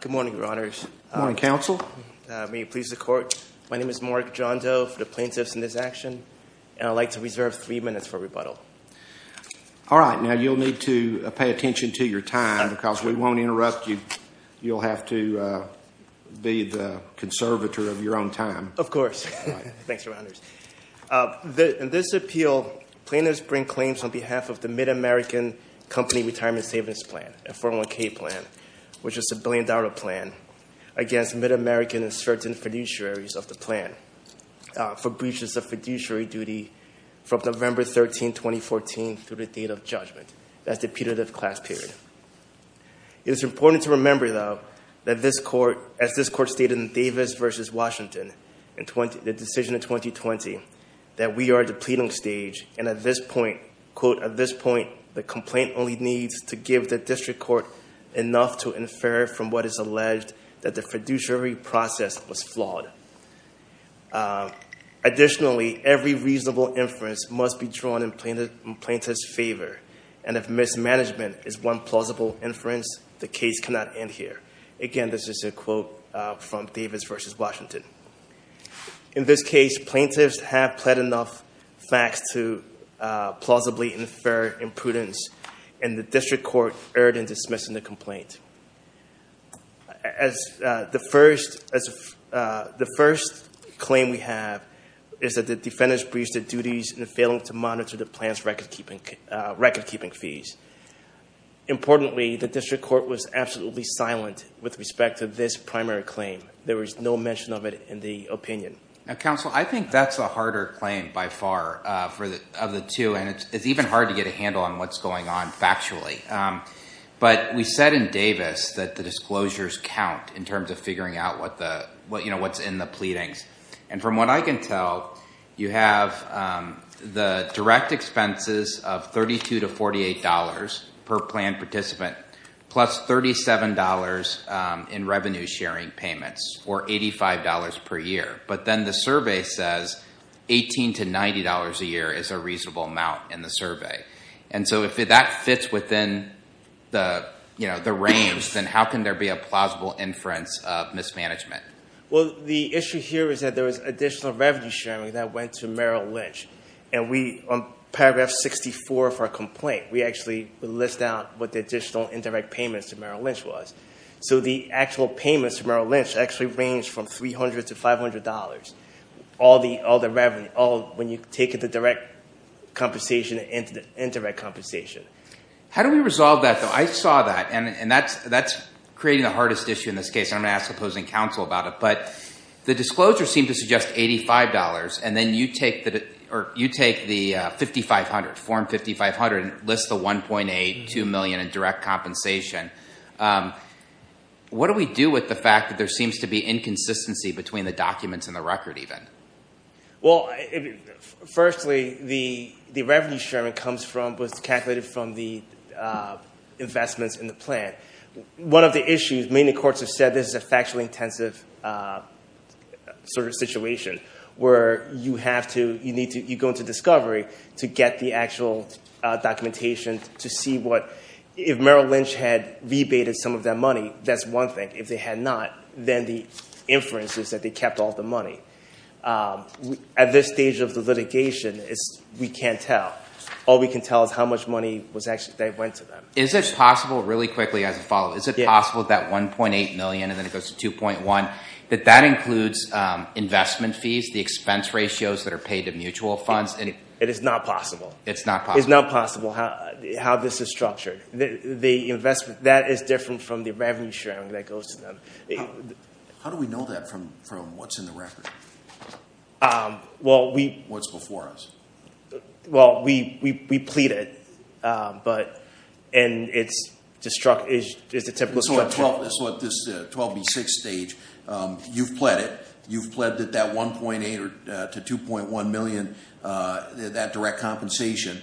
Good morning, Your Honors. Good morning, Counsel. May it please the Court, my name is Mark Jondo for the Plaintiffs in this action, and I'd like to reserve three minutes for rebuttal. All right, now you'll need to pay attention to your time because we won't interrupt you. You'll have to be the conservator of your own time. Of course. Thanks, Your Honors. In this appeal, plaintiffs bring claims on behalf of the MidAmerican Company Retirement Savings Plan, a 401k plan, which is a billion dollar plan, against MidAmerican and certain fiduciaries of the plan for breaches of fiduciary duty from November 13, 2014 through the date of judgment. That's the punitive class period. It is important to remember, though, that this Court, as this Court stated in Davis v. Washington, the decision of 2020, that we are at the pleading stage, and at this point, quote, Additionally, every reasonable inference must be drawn in plaintiff's favor, and if mismanagement is one plausible inference, the case cannot end here. Again, this is a quote from Davis v. Washington. In this case, plaintiffs have pled enough facts to plausibly infer imprudence, and the District Court erred in dismissing the complaint. As the first claim we have is that the defendants breached their duties in failing to monitor the plan's record-keeping fees. Importantly, the District Court was absolutely silent with respect to this primary claim. There was no mention of it in the opinion. Now, Counsel, I think that's a harder claim by far of the two, and it's even hard to get a handle on what's going on factually. But we said in Davis that the disclosures count in terms of figuring out what's in the pleadings. And from what I can tell, you have the direct expenses of $32 to $48 per planned participant, plus $37 in revenue-sharing payments, or $85 per year. But then the survey says $18 to $90 a year is a reasonable amount in the survey. And so if that fits within the range, then how can there be a plausible inference of mismanagement? Well, the issue here is that there was additional revenue-sharing that went to Merrill Lynch. And on paragraph 64 of our complaint, we actually list out what the additional indirect payments to Merrill Lynch was. So the actual payments to Merrill Lynch actually ranged from $300 to $500, all the revenue, when you take the direct compensation and the indirect compensation. How do we resolve that, though? I saw that, and that's creating the hardest issue in this case, and I'm going to ask opposing counsel about it. But the disclosures seem to suggest $85, and then you take the $5,500, form $5,500, and list the $1.8, $2 million in direct compensation. What do we do with the fact that there seems to be inconsistency between the documents and the record, even? Well, firstly, the revenue-sharing was calculated from the investments in the plan. One of the issues, many courts have said this is a factually intensive sort of situation where you go into discovery to get the actual documentation to see what – if Merrill Lynch had rebated some of that money, that's one thing. If they had not, then the inference is that they kept all the money. At this stage of the litigation, we can't tell. All we can tell is how much money was actually – that went to them. Is it possible – really quickly as a follow-up – is it possible that $1.8 million and then it goes to $2.1 million, that that includes investment fees, the expense ratios that are paid to mutual funds? It is not possible. It's not possible. It's not possible how this is structured. The investment – that is different from the revenue-sharing that goes to them. How do we know that from what's in the record? What's before us? Well, we plead it, but – and it's the typical structure. So at this 12B6 stage, you've pled it. You've pledged that that $1.8 to $2.1 million, that direct compensation,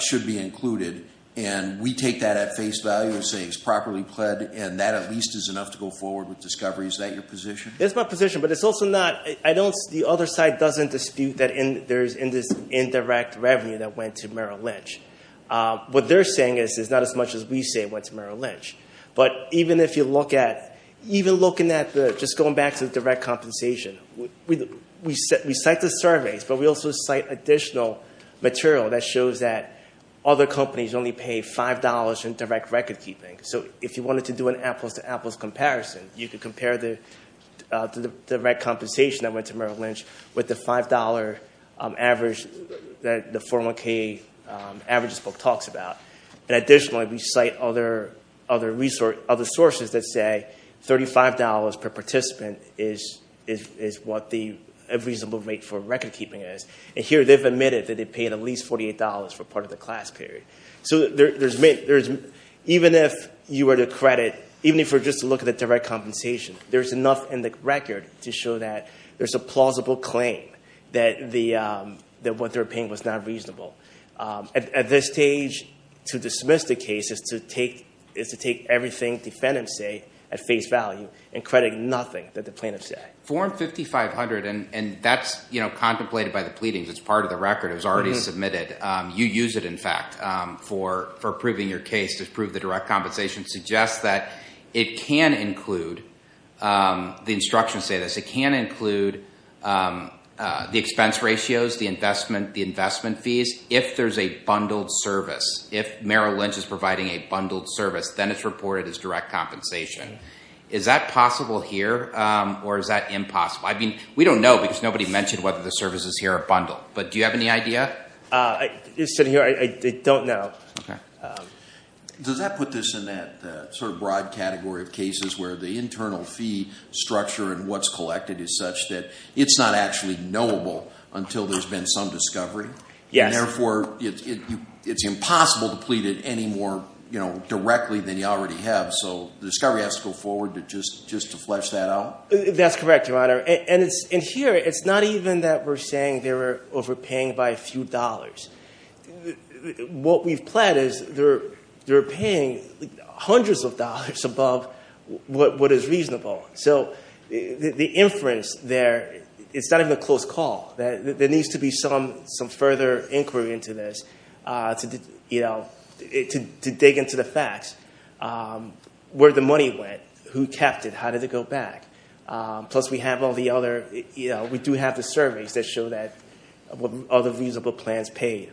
should be included. And we take that at face value and say it's properly pledged and that at least is enough to go forward with discovery. Is that your position? It's my position, but it's also not – I don't – the other side doesn't dispute that there's indirect revenue that went to Merrill Lynch. What they're saying is it's not as much as we say went to Merrill Lynch. But even if you look at – even looking at the – just going back to the direct compensation, we cite the surveys, but we also cite additional material that shows that other companies only pay $5 in direct record-keeping. So if you wanted to do an apples-to-apples comparison, you could compare the direct compensation that went to Merrill Lynch with the $5 average that the 401k averages book talks about. And additionally, we cite other sources that say $35 per participant is what the reasonable rate for record-keeping is. And here they've admitted that they paid at least $48 for part of the class period. So there's – even if you were to credit – even if we're just to look at the direct compensation, there's enough in the record to show that there's a plausible claim that what they're paying was not reasonable. At this stage, to dismiss the case is to take everything defendants say at face value and credit nothing that the plaintiffs say. Form 5500 – and that's contemplated by the pleadings. It's part of the record. It was already submitted. You use it, in fact, for proving your case to prove the direct compensation. It suggests that it can include – the instructions say this. It can include the expense ratios, the investment fees, if there's a bundled service. If Merrill Lynch is providing a bundled service, then it's reported as direct compensation. Is that possible here or is that impossible? I mean, we don't know because nobody mentioned whether the service is here or bundled, but do you have any idea? It's sitting here. I don't know. Does that put this in that sort of broad category of cases where the internal fee structure and what's collected is such that it's not actually knowable until there's been some discovery? Yes. Therefore, it's impossible to plead it any more directly than you already have, so the discovery has to go forward just to flesh that out? That's correct, Your Honor. And here, it's not even that we're saying they were overpaying by a few dollars. What we've planned is they were paying hundreds of dollars above what is reasonable. So the inference there, it's not even a close call. There needs to be some further inquiry into this to dig into the facts, where the money went, who kept it, how did it go back. Plus, we do have the surveys that show that other reasonable plans paid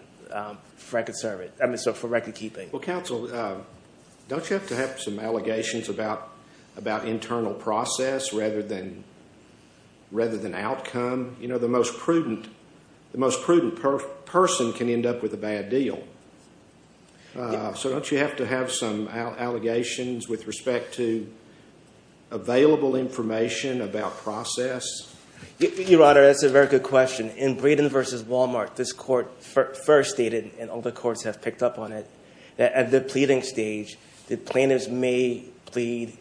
for recordkeeping. Well, counsel, don't you have to have some allegations about internal process rather than outcome? You know, the most prudent person can end up with a bad deal. So don't you have to have some allegations with respect to available information about process? Your Honor, that's a very good question. In Braden v. Walmart, this court first stated, and all the courts have picked up on it, that at the pleading stage, the plaintiffs may plead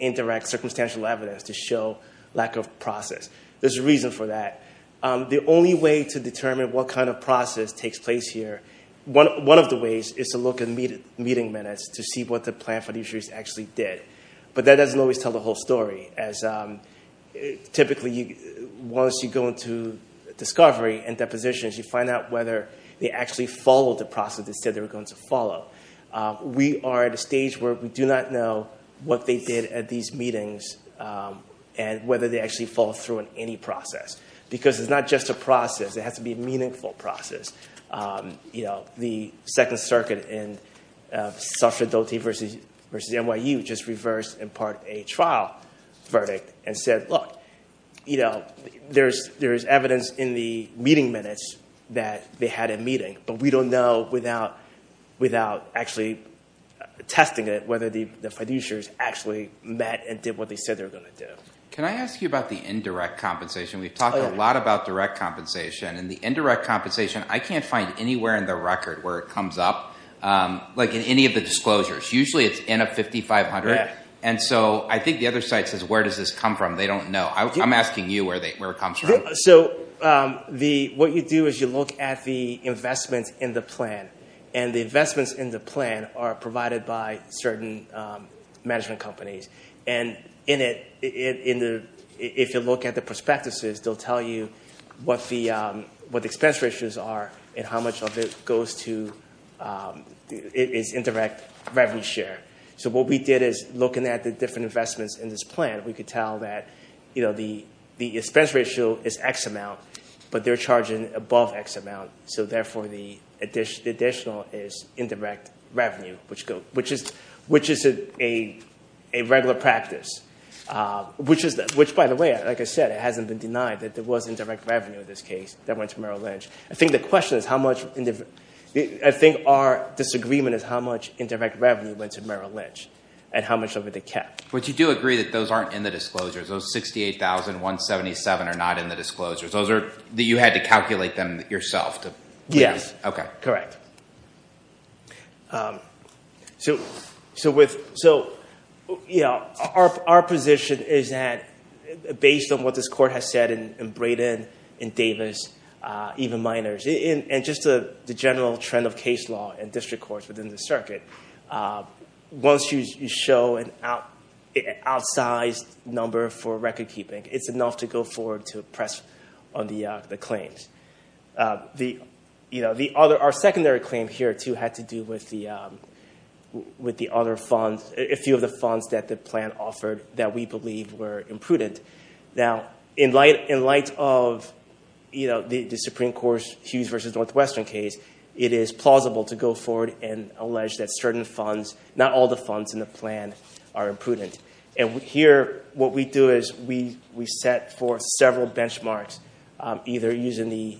indirect circumstantial evidence to show lack of process. There's a reason for that. The only way to determine what kind of process takes place here, one of the ways is to look at meeting minutes to see what the plan for these issues actually did. But that doesn't always tell the whole story. Typically, once you go into discovery and depositions, you find out whether they actually followed the process they said they were going to follow. We are at a stage where we do not know what they did at these meetings and whether they actually followed through on any process, because it's not just a process. It has to be a meaningful process. The Second Circuit in Suffragette v. NYU just reversed in part a trial verdict and said, look, there's evidence in the meeting minutes that they had a meeting, but we don't know without actually testing it whether the fiduciaries actually met and did what they said they were going to do. Can I ask you about the indirect compensation? We've talked a lot about direct compensation, and the indirect compensation, I can't find anywhere in the record where it comes up, like in any of the disclosures. Usually it's in a 5500, and so I think the other site says, where does this come from? They don't know. I'm asking you where it comes from. So what you do is you look at the investments in the plan, and the investments in the plan are provided by certain management companies. And if you look at the prospectuses, they'll tell you what the expense ratios are and how much of it goes to indirect revenue share. So what we did is looking at the different investments in this plan, we could tell that the expense ratio is X amount, but they're charging above X amount, so therefore the additional is indirect revenue, which is a regular practice. Which, by the way, like I said, it hasn't been denied that there was indirect revenue in this case that went to Merrill Lynch. I think our disagreement is how much indirect revenue went to Merrill Lynch and how much of it they kept. But you do agree that those aren't in the disclosures. Those 68,177 are not in the disclosures. You had to calculate them yourself? Yes. Okay. Correct. So our position is that based on what this court has said in Braden, in Davis, even Miners, and just the general trend of case law and district courts within the circuit, once you show an outsized number for recordkeeping, it's enough to go forward to press on the claims. Our secondary claim here, too, had to do with a few of the funds that the plan offered that we believe were imprudent. Now, in light of the Supreme Court's Hughes v. Northwestern case, it is plausible to go forward and allege that certain funds, not all the funds in the plan, are imprudent. And here what we do is we set forth several benchmarks, either using the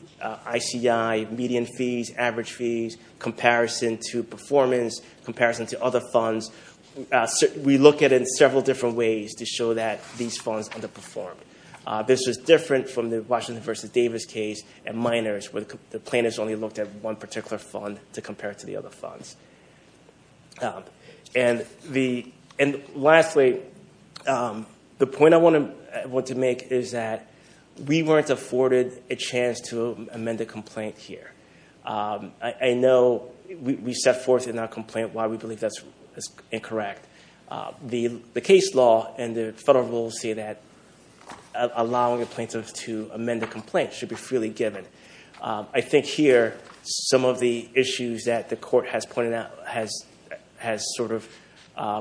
ICI median fees, average fees, comparison to performance, comparison to other funds. We look at it in several different ways to show that these funds underperformed. This was different from the Washington v. Davis case and Miners, where the plaintiffs only looked at one particular fund to compare it to the other funds. And lastly, the point I want to make is that we weren't afforded a chance to amend a complaint here. I know we set forth in our complaint why we believe that's incorrect. The case law and the federal rules say that allowing a plaintiff to amend a complaint should be freely given. I think here some of the issues that the court has sort of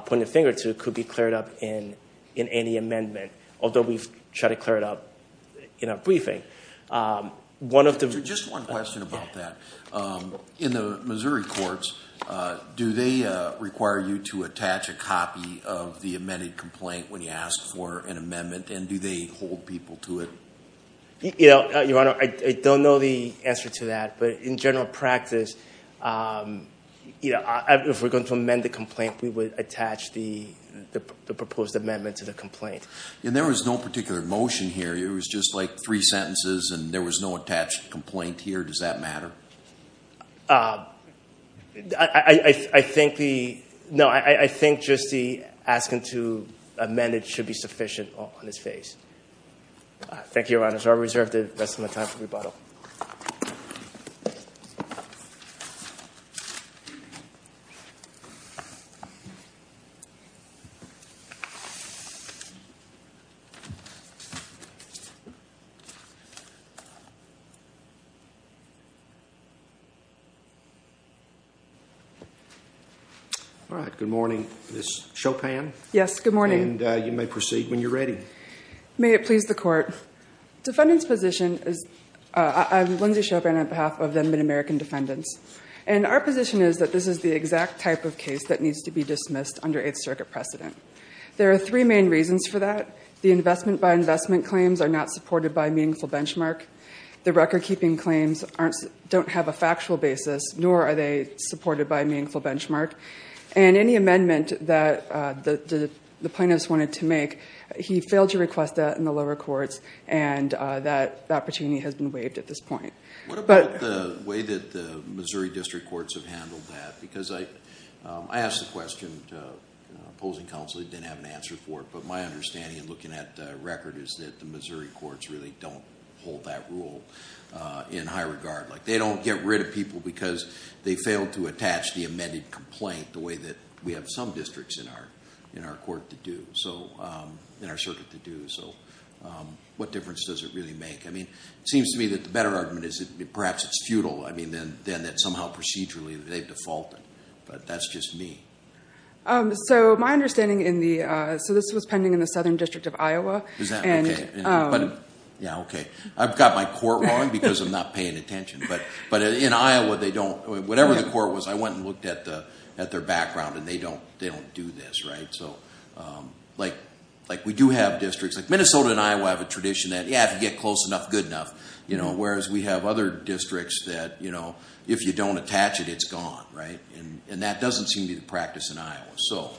pointed a finger to could be cleared up in any amendment, although we've tried to clear it up in our briefing. Just one question about that. In the Missouri courts, do they require you to attach a copy of the amended complaint when you ask for an amendment, and do they hold people to it? Your Honor, I don't know the answer to that. But in general practice, if we're going to amend the complaint, we would attach the proposed amendment to the complaint. And there was no particular motion here. It was just like three sentences, and there was no attached complaint here. Does that matter? I think just the asking to amend it should be sufficient on its face. Thank you, Your Honor. So I reserve the rest of my time for rebuttal. All right, good morning. Ms. Chopin? Yes, good morning. And you may proceed when you're ready. May it please the Court. Defendant's position is – I'm Lindsay Chopin on behalf of the Mid-American Defendants. And our position is that this is the exact type of case that needs to be dismissed under Eighth Circuit precedent. There are three main reasons for that. The investment-by-investment claims are not supported by meaningful benchmark. The record-keeping claims don't have a factual basis, nor are they supported by a meaningful benchmark. And any amendment that the plaintiffs wanted to make, he failed to request that in the lower courts, and that opportunity has been waived at this point. What about the way that the Missouri District Courts have handled that? Because I asked the question to opposing counsel. They didn't have an answer for it. But my understanding in looking at the record is that the Missouri Courts really don't hold that rule in high regard. They don't get rid of people because they failed to attach the amended complaint the way that we have some districts in our court to do, in our circuit to do. So what difference does it really make? I mean, it seems to me that the better argument is perhaps it's futile. I mean, then that somehow procedurally they've defaulted. But that's just me. So my understanding in the – so this was pending in the Southern District of Iowa. Is that okay? Yeah, okay. I've got my court wrong because I'm not paying attention. But in Iowa, they don't – whatever the court was, I went and looked at their background, and they don't do this, right? So, like, we do have districts – like, Minnesota and Iowa have a tradition that, yeah, if you get close enough, good enough, whereas we have other districts that, you know, if you don't attach it, it's gone, right? And that doesn't seem to be the practice in Iowa.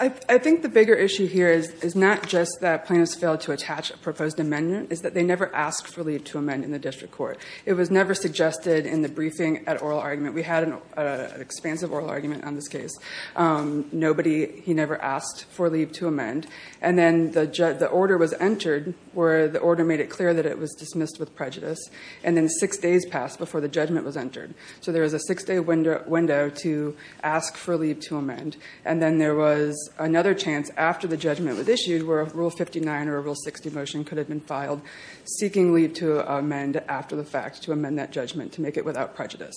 I think the bigger issue here is not just that plaintiffs failed to attach a proposed amendment. It's that they never asked for leave to amend in the district court. It was never suggested in the briefing at oral argument. We had an expansive oral argument on this case. Nobody – he never asked for leave to amend. And then the order was entered where the order made it clear that it was dismissed with prejudice. And then six days passed before the judgment was entered. So there was a six-day window to ask for leave to amend. And then there was another chance after the judgment was issued where a Rule 59 or a Rule 60 motion could have been filed, seeking leave to amend after the fact, to amend that judgment, to make it without prejudice.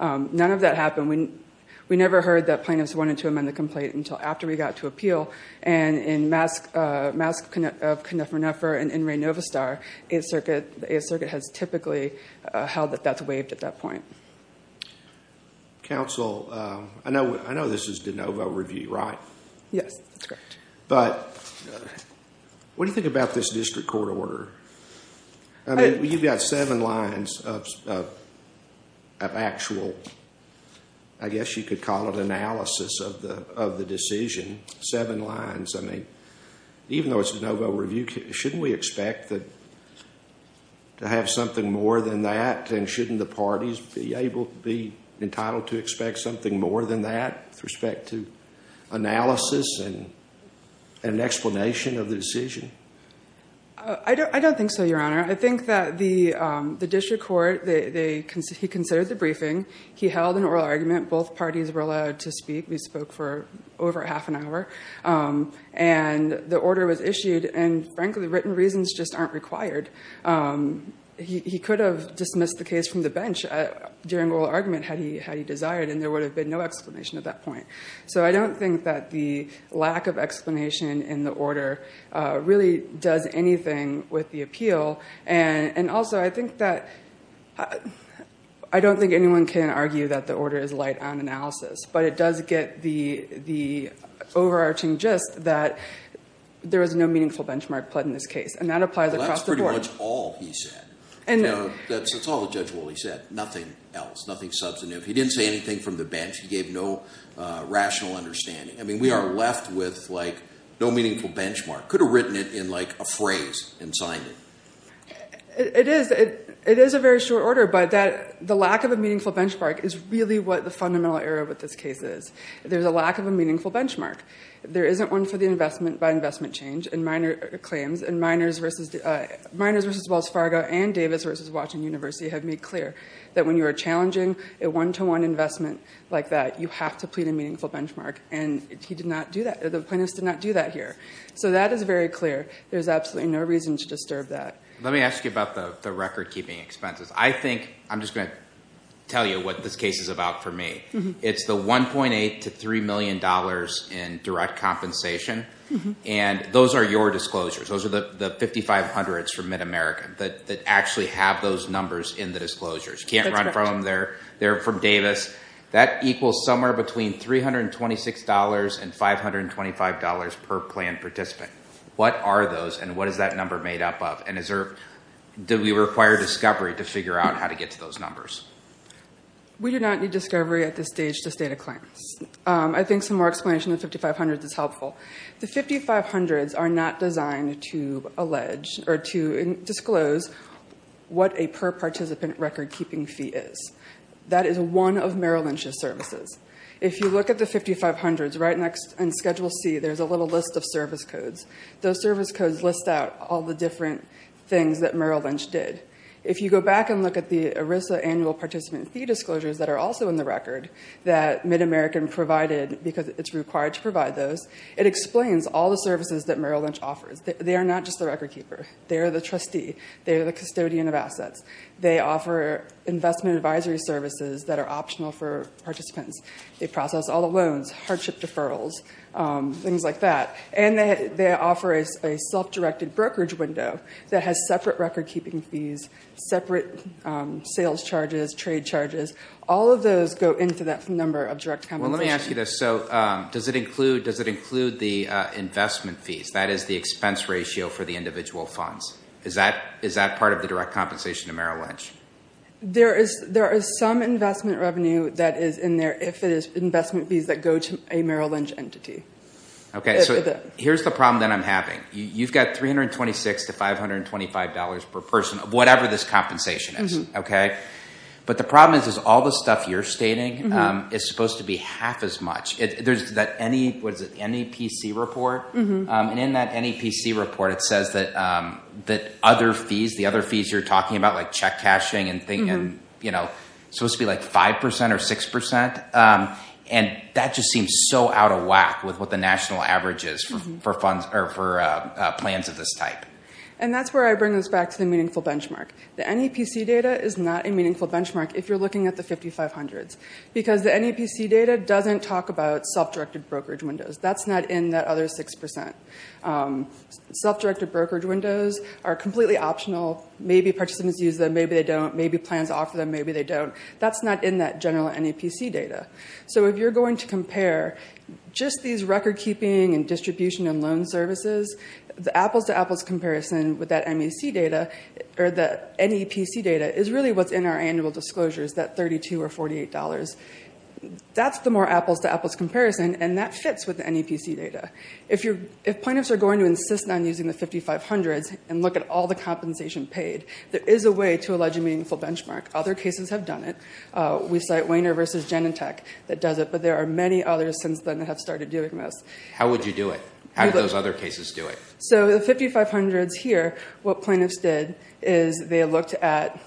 None of that happened. We never heard that plaintiffs wanted to amend the complaint until after we got to appeal. And in Mask of Knuffernuffer and in Raynovastar, the 8th Circuit has typically held that that's waived at that point. Counsel, I know this is de novo review, right? Yes, that's correct. But what do you think about this district court order? I mean, you've got seven lines of actual, I guess you could call it analysis of the decision. Seven lines. I mean, even though it's de novo review, shouldn't we expect to have something more than that? And shouldn't the parties be entitled to expect something more than that with respect to analysis and an explanation of the decision? I don't think so, Your Honor. I think that the district court, he considered the briefing. He held an oral argument. Both parties were allowed to speak. We spoke for over half an hour. And the order was issued. And, frankly, the written reasons just aren't required. He could have dismissed the case from the bench during oral argument had he desired, and there would have been no explanation at that point. So I don't think that the lack of explanation in the order really does anything with the appeal. And, also, I think that I don't think anyone can argue that the order is light on analysis. But it does get the overarching gist that there was no meaningful benchmark put in this case. And that applies across the board. Well, that's pretty much all he said. That's all Judge Wooley said. Nothing else. Nothing substantive. He didn't say anything from the bench. He gave no rational understanding. I mean, we are left with, like, no meaningful benchmark. Could have written it in, like, a phrase and signed it. It is a very short order. But the lack of a meaningful benchmark is really what the fundamental error with this case is. There's a lack of a meaningful benchmark. There isn't one for the investment by investment change and minor claims. And Miners v. Wells Fargo and Davis v. Washington University have made clear that when you are challenging a one-to-one investment like that, you have to plead a meaningful benchmark. And he did not do that. The plaintiffs did not do that here. So that is very clear. There's absolutely no reason to disturb that. Let me ask you about the record-keeping expenses. I think I'm just going to tell you what this case is about for me. It's the $1.8 to $3 million in direct compensation. And those are your disclosures. Those are the 5,500s from MidAmerica that actually have those numbers in the disclosures. You can't run from them. They're from Davis. That equals somewhere between $326 and $525 per planned participant. What are those and what is that number made up of? And did we require discovery to figure out how to get to those numbers? We did not need discovery at this stage to state a claim. I think some more explanation of the 5,500s is helpful. The 5,500s are not designed to allege or to disclose what a per-participant record-keeping fee is. That is one of Merrill Lynch's services. If you look at the 5,500s, right next in Schedule C, there's a little list of service codes. Those service codes list out all the different things that Merrill Lynch did. If you go back and look at the ERISA annual participant fee disclosures that are also in the record that MidAmerican provided because it's required to provide those, it explains all the services that Merrill Lynch offers. They are not just the record-keeper. They are the trustee. They are the custodian of assets. They offer investment advisory services that are optional for participants. They process all the loans, hardship deferrals, things like that. And they offer a self-directed brokerage window that has separate record-keeping fees, separate sales charges, trade charges. All of those go into that number of direct compensation. Well, let me ask you this. So does it include the investment fees? That is the expense ratio for the individual funds. Is that part of the direct compensation to Merrill Lynch? There is some investment revenue that is in there if it is investment fees that go to a Merrill Lynch entity. Okay. So here's the problem that I'm having. You've got $326 to $525 per person, whatever this compensation is, okay? But the problem is all the stuff you're stating is supposed to be half as much. There's that NEPC report. And in that NEPC report, it says that other fees, the other fees you're talking about, like check cashing and, you know, supposed to be like 5% or 6%. And that just seems so out of whack with what the national average is for plans of this type. And that's where I bring this back to the meaningful benchmark. The NEPC data is not a meaningful benchmark if you're looking at the 5500s because the NEPC data doesn't talk about self-directed brokerage windows. That's not in that other 6%. Self-directed brokerage windows are completely optional. Maybe participants use them, maybe they don't. Maybe plans offer them, maybe they don't. That's not in that general NEPC data. So if you're going to compare just these record-keeping and distribution and loan services, the apples-to-apples comparison with that NEPC data is really what's in our annual disclosures, that $32 or $48. That's the more apples-to-apples comparison, and that fits with the NEPC data. If plaintiffs are going to insist on using the 5500s and look at all the compensation paid, there is a way to allege a meaningful benchmark. Other cases have done it. We cite Wainer v. Genentech that does it, but there are many others since then that have started doing this. How would you do it? How do those other cases do it? So the 5500s here, what plaintiffs did is they looked at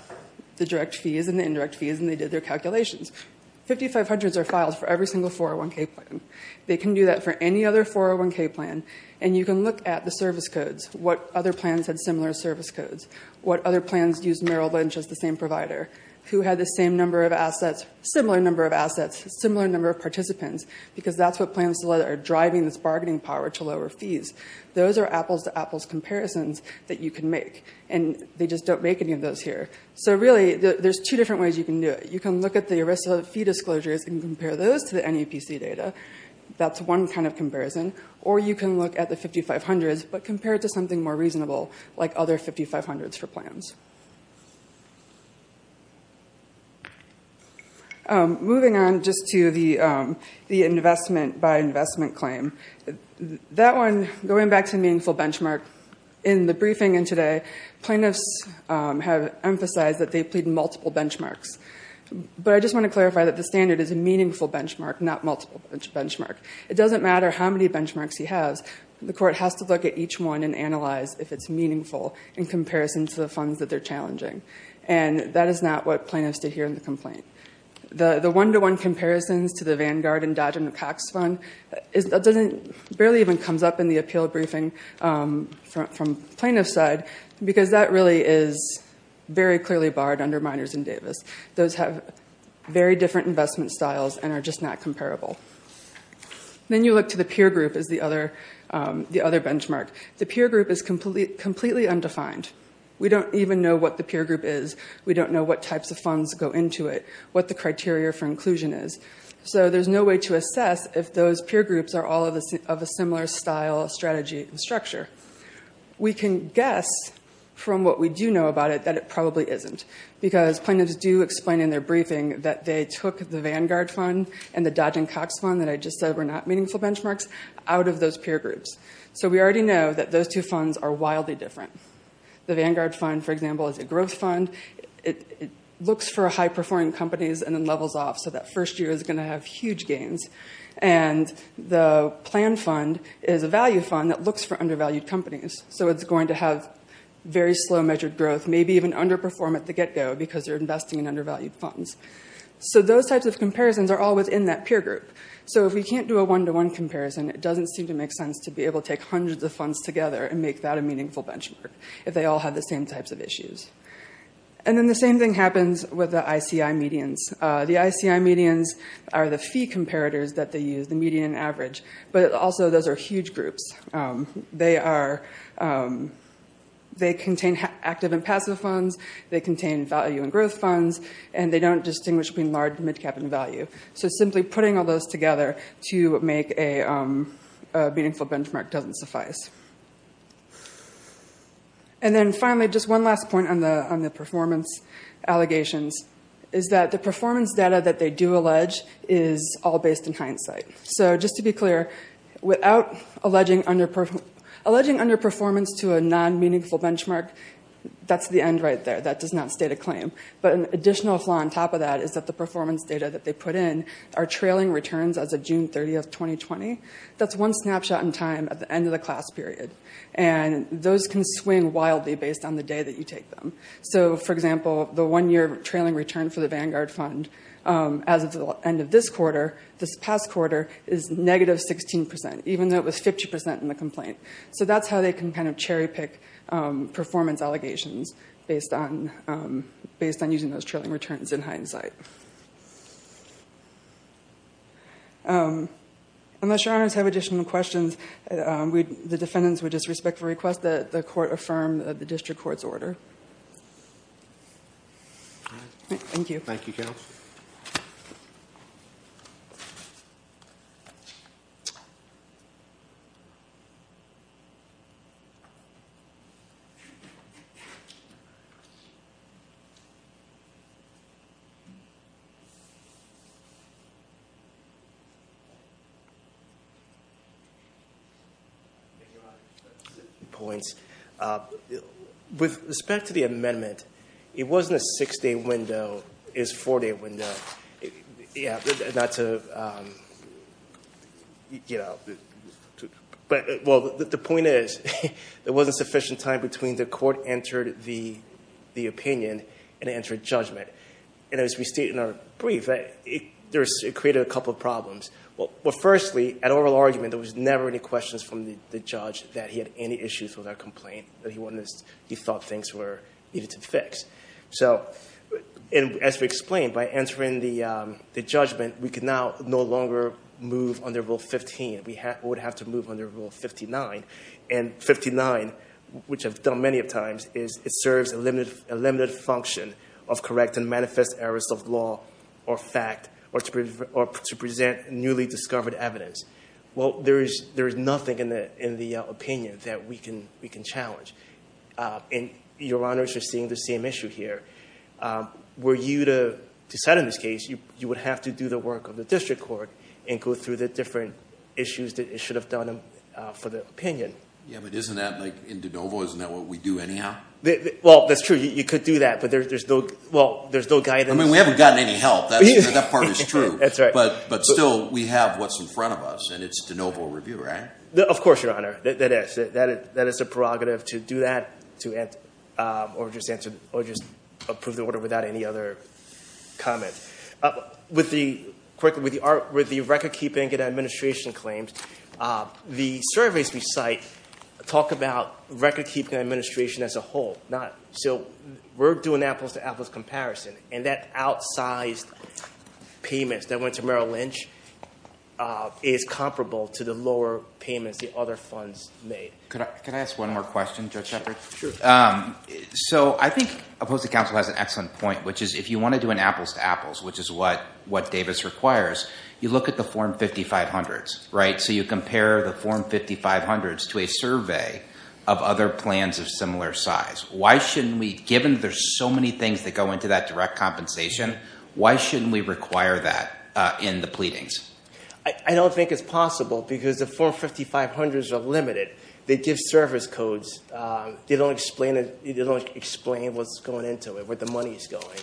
the direct fees and the indirect fees, and they did their calculations. 5500s are filed for every single 401k plan. They can do that for any other 401k plan, and you can look at the service codes, what other plans had similar service codes, what other plans used Merrill Lynch as the same provider, who had the same number of assets, similar number of assets, similar number of participants, because that's what plans are driving this bargaining power to lower fees. Those are apples-to-apples comparisons that you can make, and they just don't make any of those here. So really there's two different ways you can do it. You can look at the ERISA fee disclosures and compare those to the NEPC data. That's one kind of comparison. Or you can look at the 5500s but compare it to something more reasonable like other 5500s for plans. Moving on just to the investment by investment claim, that one, going back to meaningful benchmark, in the briefing in today, plaintiffs have emphasized that they plead multiple benchmarks. But I just want to clarify that the standard is a meaningful benchmark, not multiple benchmark. It doesn't matter how many benchmarks he has. The court has to look at each one and analyze if it's meaningful in comparison to the funds that they're challenging. And that is not what plaintiffs did here in the complaint. The one-to-one comparisons to the Vanguard and Dodgen and Pax fund, that barely even comes up in the appeal briefing from plaintiff's side because that really is very clearly barred under minors and Davis. Those have very different investment styles and are just not comparable. Then you look to the peer group as the other benchmark. The peer group is completely undefined. We don't even know what the peer group is. We don't know what types of funds go into it, what the criteria for inclusion is. So there's no way to assess if those peer groups are all of a similar style, strategy, and structure. We can guess from what we do know about it that it probably isn't because plaintiffs do explain in their briefing that they took the Vanguard fund and the Dodgen Cox fund that I just said were not meaningful benchmarks out of those peer groups. So we already know that those two funds are wildly different. The Vanguard fund, for example, is a growth fund. It looks for high-performing companies and then levels off. So that first year is going to have huge gains. And the plan fund is a value fund that looks for undervalued companies. So it's going to have very slow measured growth, maybe even underperform at the get-go because they're investing in undervalued funds. So those types of comparisons are all within that peer group. So if we can't do a one-to-one comparison, it doesn't seem to make sense to be able to take hundreds of funds together and make that a meaningful benchmark if they all have the same types of issues. And then the same thing happens with the ICI medians. The ICI medians are the fee comparators that they use, the median and average. But also those are huge groups. They contain active and passive funds. They contain value and growth funds. And they don't distinguish between large, mid-cap, and value. So simply putting all those together to make a meaningful benchmark doesn't suffice. And then finally, just one last point on the performance allegations, is that the performance data that they do allege is all based in hindsight. So just to be clear, without alleging underperformance to a non-meaningful benchmark, that's the end right there. That does not state a claim. But an additional flaw on top of that is that the performance data that they put in are trailing returns as of June 30, 2020. That's one snapshot in time at the end of the class period. And those can swing wildly based on the day that you take them. So, for example, the one-year trailing return for the Vanguard Fund as of the end of this quarter, this past quarter, is negative 16%, even though it was 50% in the complaint. So that's how they can kind of cherry-pick performance allegations based on using those trailing returns in hindsight. Unless your honors have additional questions, the defendants would just respectfully request that the court affirm the district court's order. Thank you. Thank you. Thank you, Your Honor. Two points. With respect to the amendment, it was in a six-day window. It was a four-day window. Yeah, not to, you know... Well, the point is there wasn't sufficient time between the court entered the opinion and entered judgment. And as we state in our brief, it created a couple of problems. Well, firstly, at oral argument, there was never any questions from the judge that he had any issues with our complaint that he thought things needed to fix. So, as we explained, by entering the judgment, we could now no longer move under Rule 15. We would have to move under Rule 59. And 59, which I've done many times, is it serves a limited function of correct and manifest errors of law or fact or to present newly discovered evidence. Well, there is nothing in the opinion that we can challenge. And your honors are seeing the same issue here. Were you to decide on this case, you would have to do the work of the district court and go through the different issues that it should have done for the opinion. Yeah, but isn't that like in de novo? Isn't that what we do anyhow? Well, that's true. You could do that, but there's no guidance. I mean, we haven't gotten any help. That part is true. That's right. But still, we have what's in front of us, and it's de novo review, right? Of course, your honor. That is a prerogative to do that or just approve the order without any other comment. With the record-keeping and administration claims, the surveys we cite talk about record-keeping and administration as a whole. So we're doing apples to apples comparison, and that outsized payments that went to Merrill Lynch is comparable to the lower payments the other funds made. Could I ask one more question, Judge Shepherd? Sure. So I think opposing counsel has an excellent point, which is if you want to do an apples to apples, which is what Davis requires, you look at the Form 5500s, right? So you compare the Form 5500s to a survey of other plans of similar size. Why shouldn't we, given there's so many things that go into that direct compensation, why shouldn't we require that in the pleadings? I don't think it's possible because the Form 5500s are limited. They give service codes. They don't explain what's going into it, where the money is going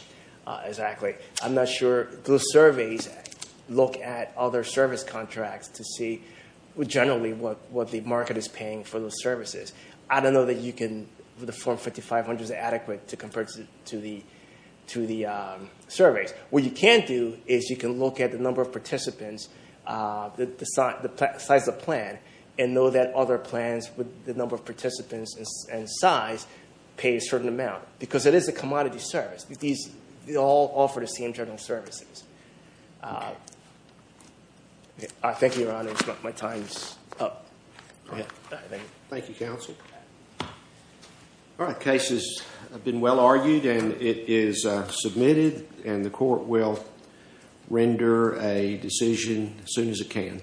exactly. I'm not sure those surveys look at other service contracts to see generally what the market is paying for those services. I don't know that the Form 5500 is adequate to compare to the surveys. What you can do is you can look at the number of participants, the size of the plan, and know that other plans with the number of participants and size pay a certain amount because it is a commodity service. They all offer the same general services. Thank you, Your Honor. My time is up. Thank you, counsel. All right, the case has been well argued, and it is submitted, and the court will render a decision as soon as it can.